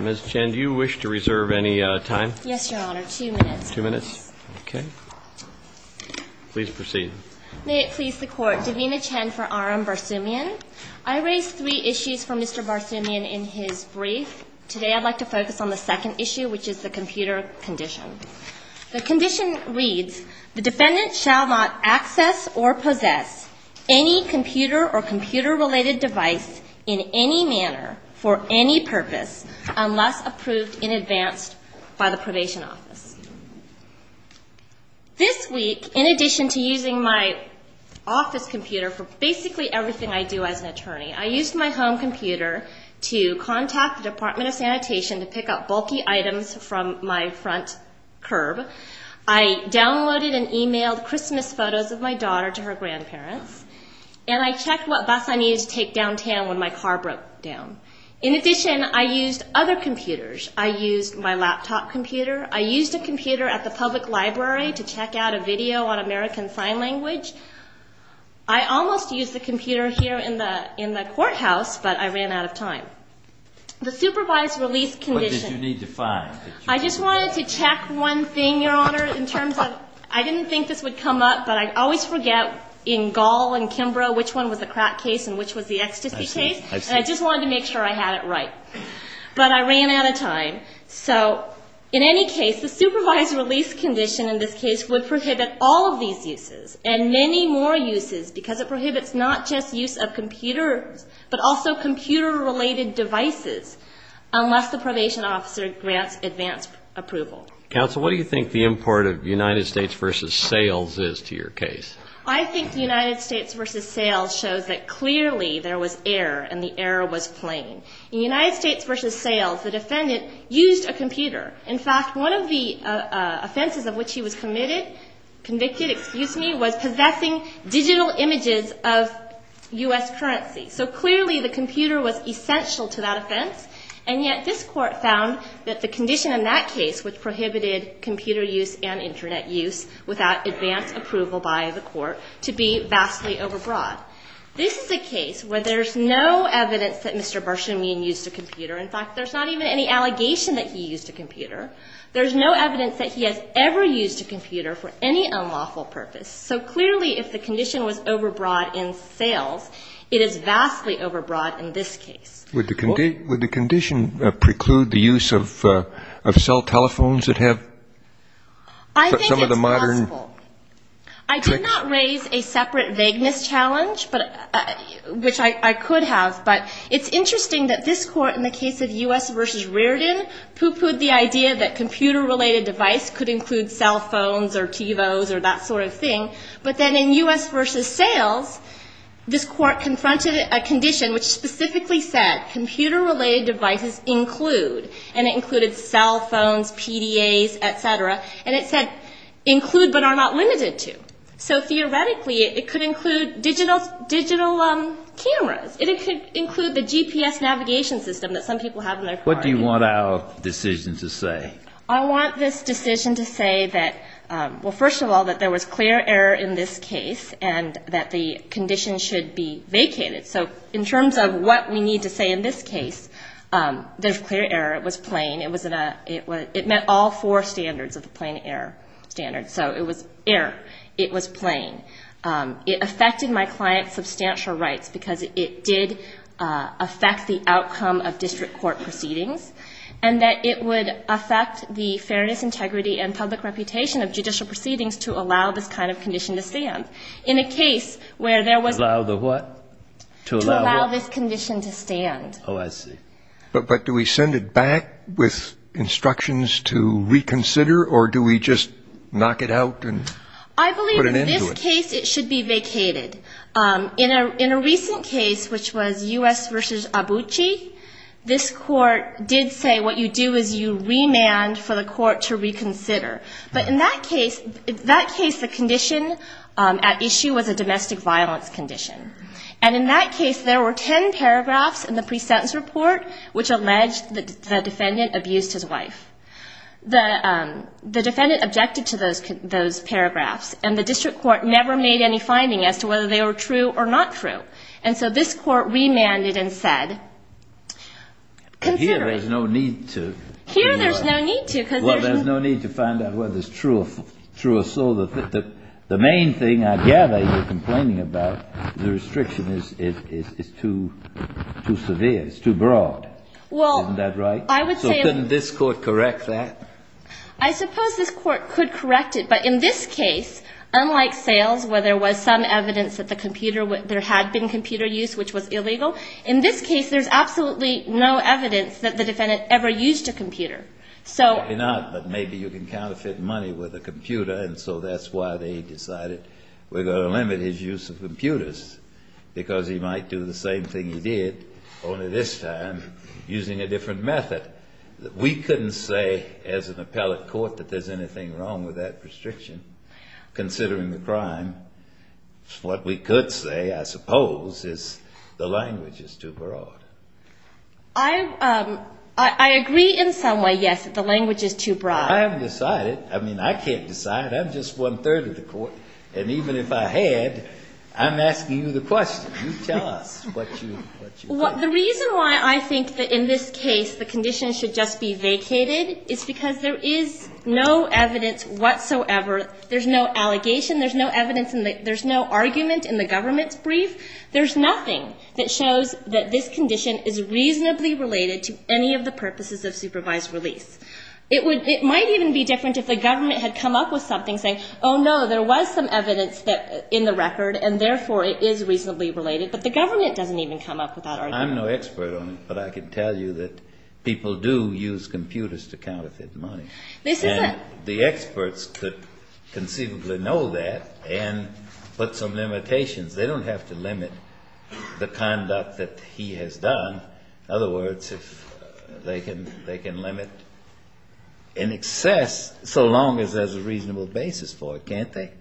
Ms. Chen, do you wish to reserve any time? Yes, Your Honor, two minutes. Two minutes? Okay. Please proceed. May it please the Court, Davina Chen for R.M. Barsumyan. I raised three issues for Mr. Barsumyan in his brief. Today I'd like to focus on the second issue, which is, does he possess any computer or computer-related device in any manner for any purpose unless approved in advance by the probation office? This week, in addition to using my office computer for basically everything I do as an attorney, I used my home computer to contact the Department of Sanitation to pick up bulky items from my front curb. I downloaded and called my grandparents, and I checked what bus I needed to take downtown when my car broke down. In addition, I used other computers. I used my laptop computer. I used a computer at the public library to check out a video on American Sign Language. I almost used the computer here in the courthouse, but I ran out of time. The supervised release condition What did you need to find? I just wanted to check one thing, Your Honor, in terms of, I didn't think this would come up, but I always forget in Gall and Kimbrough which one was the crack case and which was the ecstasy case. I see. I see. And I just wanted to make sure I had it right. But I ran out of time. So in any case, the supervised release condition in this case would prohibit all of these uses and many more uses because it prohibits not just use of computers, but also computer-related devices unless the probation officer grants advance approval. Counsel, what do you think the import of United States v. Sales is to your case? I think United States v. Sales shows that clearly there was error and the error was plain. In United States v. Sales, the defendant used a computer. In fact, one of the offenses of which he was committed, convicted, excuse me, was possessing digital images of U.S. currency. So clearly the computer was essential to that offense, and yet this Court found that the condition in that case, which prohibited computer use and Internet use without advance approval by the Court, to be vastly overbroad. This is a case where there's no evidence that Mr. Bershamian used a computer. In fact, there's not even any allegation that he used a computer. There's no evidence that he has ever used a computer for any unlawful purpose. So clearly if the condition was overbroad in Sales, it is vastly overbroad in this case. Would the condition preclude the use of cell telephones that have some of the modern... I think it's possible. I did not raise a separate vagueness challenge, which I could have. But it's interesting that this Court, in the case of U.S. v. Reardon, pooh-poohed the idea that computer-related device could include cell phones or TiVos or that sort of thing. But then in U.S. v. Sales, this Court confronted a condition which specifically said computer-related devices include, and it included cell phones, PDAs, et cetera. And it said include but are not limited to. So theoretically, it could include digital cameras. It could include the GPS navigation system that some people have in their car. What do you want our decision to say? I want this decision to say that, well, first of all, that there was clear error in this case and that the condition should be vacated. So in terms of what we need to say in this case, there's clear error. It was plain. It was in a, it was, it met all four standards of the plain error standard. So it was error. It was plain. It affected my client's substantial rights because it did affect the outcome of district court proceedings and that it would affect the fairness, integrity, and public reputation of judicial proceedings to allow this kind of condition to stand. In a case where there was... Allow the what? To allow what? To allow this condition to stand. Oh, I see. But do we send it back with instructions to reconsider or do we just knock it out and put an end to it? I believe in this case, it should be vacated. In a recent case, which was U.S. v. Abucci, this court did say what you do is you remand for the court to reconsider. But in that case, that case, the condition at issue was a domestic violence condition. And in that case, there were ten paragraphs in the pre-sentence report which alleged that the defendant abused his wife. The defendant objected to those paragraphs and the district court never made any finding as to whether they were true or not true. And so this court remanded and said, consider... Here, there's no need to... Here, there's no need to because... Well, there's no need to find out whether it's true or so. The main thing I gather you're complaining about, the restriction is too severe, it's too broad. Isn't that right? Well, I would say... So couldn't this court correct that? I suppose this court could correct it, but in this case, unlike sales where there was some evidence that there had been computer use which was illegal, in this case, there's absolutely no evidence that the defendant ever used a computer. Maybe not, but maybe you can counterfeit money with a computer and so that's why they decided we're going to limit his use of computers, because he might do the same thing he did, only this time using a different method. We couldn't say as an appellate court that there's anything wrong with that restriction, considering the crime. What we could say, I suppose, is the language is too broad. I agree in some way, yes, that the language is too broad. I haven't decided. I mean, I can't decide. I'm just one-third of the court. And even if I had, I'm asking you the question. You tell us what you think. Well, the reason why I think that in this case the condition should just be vacated is because there is no evidence whatsoever. There's no allegation. There's no evidence. There's no argument in the government's brief. There's nothing that shows that this condition is reasonably related to any of the purposes of supervised release. It might even be different if the government had come up with something saying, oh, no, there was some evidence in the record and therefore it is reasonably related, but the government doesn't even come up with that argument. I'm no expert on it, but I can tell you that people do use computers to counterfeit money. And the experts could conceivably know that and put some limitations. They don't have to limit the conduct that he has done. In other words, they can limit in excess so long as there's a reasonable basis for it, can't they?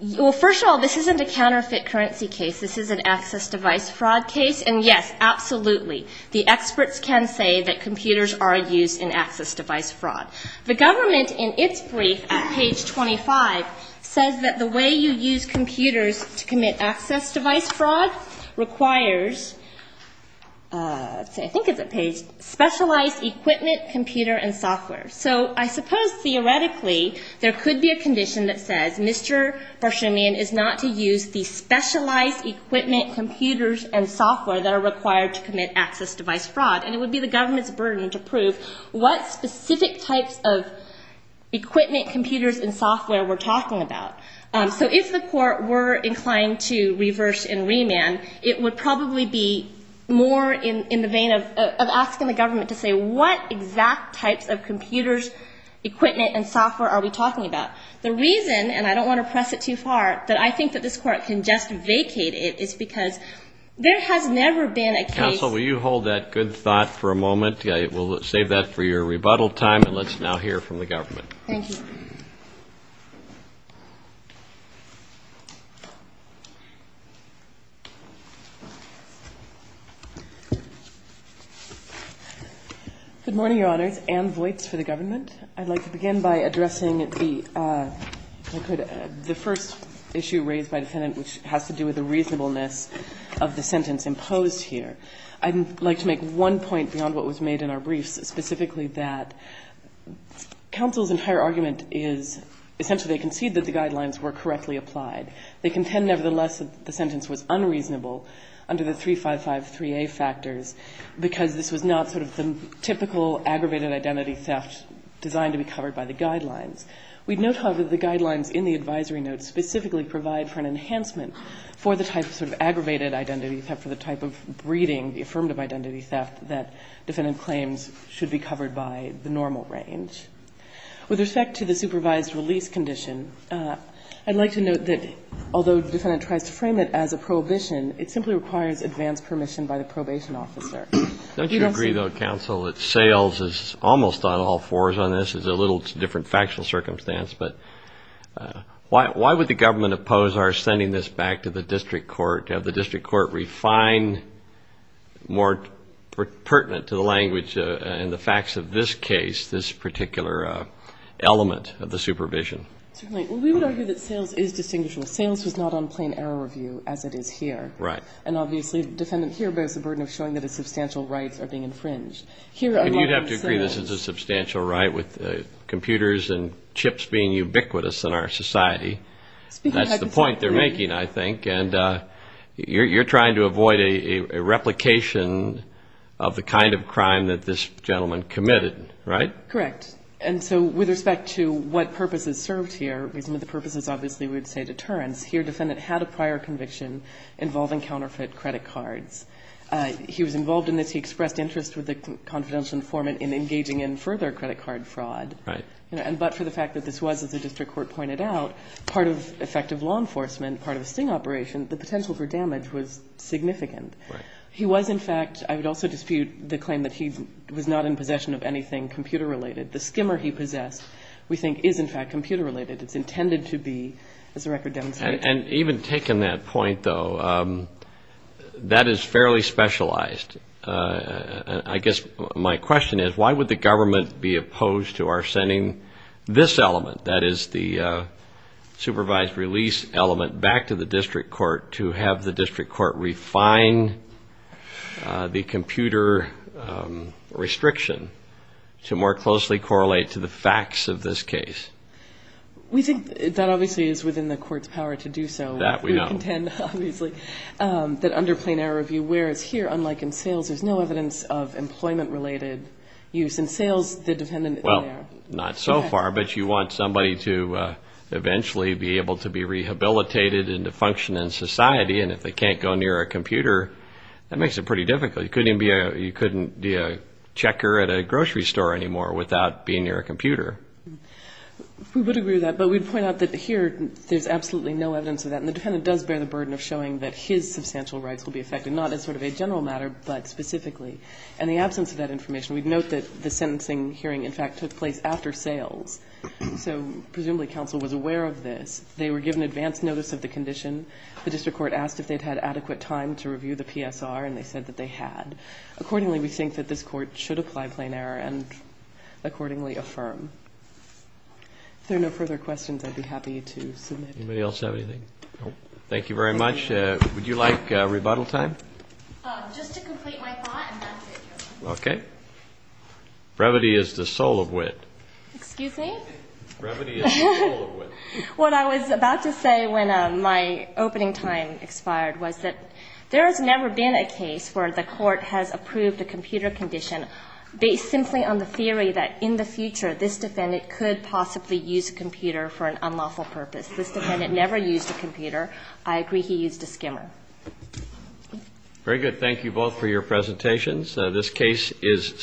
Well, first of all, this isn't a counterfeit currency case. This is an access device fraud case. And yes, absolutely, the experts can say that computers are used in access device fraud. The government, in its brief at page 25, says that the way you use requires, I think it's at page, specialized equipment, computer and software. So I suppose theoretically there could be a condition that says Mr. Barchanian is not to use the specialized equipment, computers and software that are required to commit access device fraud. And it would be the government's burden to prove what specific types of equipment, computers and software we're talking about. So if the court were inclined to reverse and remand, it would probably be more in the vein of asking the government to say what exact types of computers, equipment and software are we talking about. The reason, and I don't want to press it too far, that I think that this court can just vacate it is because there has never been a case. Counsel, will you hold that good thought for a moment? We'll save that for your presentation. Good morning, Your Honors. Anne Voights for the government. I'd like to begin by addressing the first issue raised by the defendant, which has to do with the reasonableness of the sentence imposed here. I'd like to make one point beyond what was made in our briefs, specifically that counsel's entire argument is essentially they concede that the guidelines were correctly applied. They contend, nevertheless, that the sentence was unreasonable under the 355-3A factors, because this was not sort of the typical aggravated identity theft designed to be covered by the guidelines. We'd note, however, that the guidelines in the advisory notes specifically provide for an enhancement for the type of sort of aggravated identity theft, for the type of breeding, the affirmative identity theft that defendant claims should be covered by the normal range. With respect to the supervised release condition, I'd like to note that although the defendant tries to frame it as a prohibition, it simply requires advanced permission by the probation officer. Don't you agree, though, counsel, that sales is almost on all fours on this? It's a little different factual circumstance, but why would the government oppose our sending this back to the district court to have the district court refine more pertinent to the language and the facts of this case, this particular element of the supervision? Well, we would argue that sales is distinguishable. Sales was not on plain error review as it is here. And obviously the defendant here bears the burden of showing that his substantial rights are being infringed. And you'd have to agree this is a substantial right with computers and chips being ubiquitous in our society. That's the point they're making, I think. And you're trying to avoid a replication of the kind of crime that this gentleman committed, right? Correct. And so with respect to what purposes served here, some of the purposes obviously would say deterrence, here defendant had a prior conviction involving counterfeit credit cards. He was involved in this. He expressed interest with the confidential informant in engaging in further credit card fraud. Right. But for the fact that this was, as the district court pointed out, part of effective law enforcement, part of a sting operation, the potential for damage was significant. He was in fact, I would also dispute the claim that he was not in possession of anything computer related. The skimmer he possessed we think is in fact computer related. It's intended to be, as the record demonstrates. And even taking that point though, that is fairly specialized. I guess my question is, why would the government be opposed to our sending this element, that is the supervised release element, back to the district court to have the district court refine the computer restriction to more closely correlate to the facts of this case? We think that obviously is within the court's power to do so. That we know. We contend obviously that under plain error review, whereas here, unlike in sales, there's no evidence of employment related use. In sales, the dependent is there. Well, not so far, but you want somebody to eventually be able to be rehabilitated and to function in society, and if they can't go near a grocery store anymore without being near a computer. We would agree with that, but we'd point out that here, there's absolutely no evidence of that. And the dependent does bear the burden of showing that his substantial rights will be affected, not as sort of a general matter, but specifically. And the absence of that information, we'd note that the sentencing hearing in fact took place after sales. So presumably counsel was aware of this. They were given advance notice of the condition. The district court asked if they had adequate time to review the PSR, and they said that they had. Accordingly, we think that this court should apply plain error and accordingly affirm. If there are no further questions, I'd be happy to submit. Anybody else have anything? Thank you very much. Would you like rebuttal time? Just to complete my thought, and that's it. Okay. Brevity is the soul of wit. Excuse me? Brevity is the soul of wit. What I was about to say when my opening time expired was that there has never been a case where the court has approved a computer condition based simply on the theory that in the future this defendant could possibly use a computer for an unlawful purpose. This defendant never used a computer. I agree he used a skimmer. Very good. Thank you both for your presentations. This case is submitted.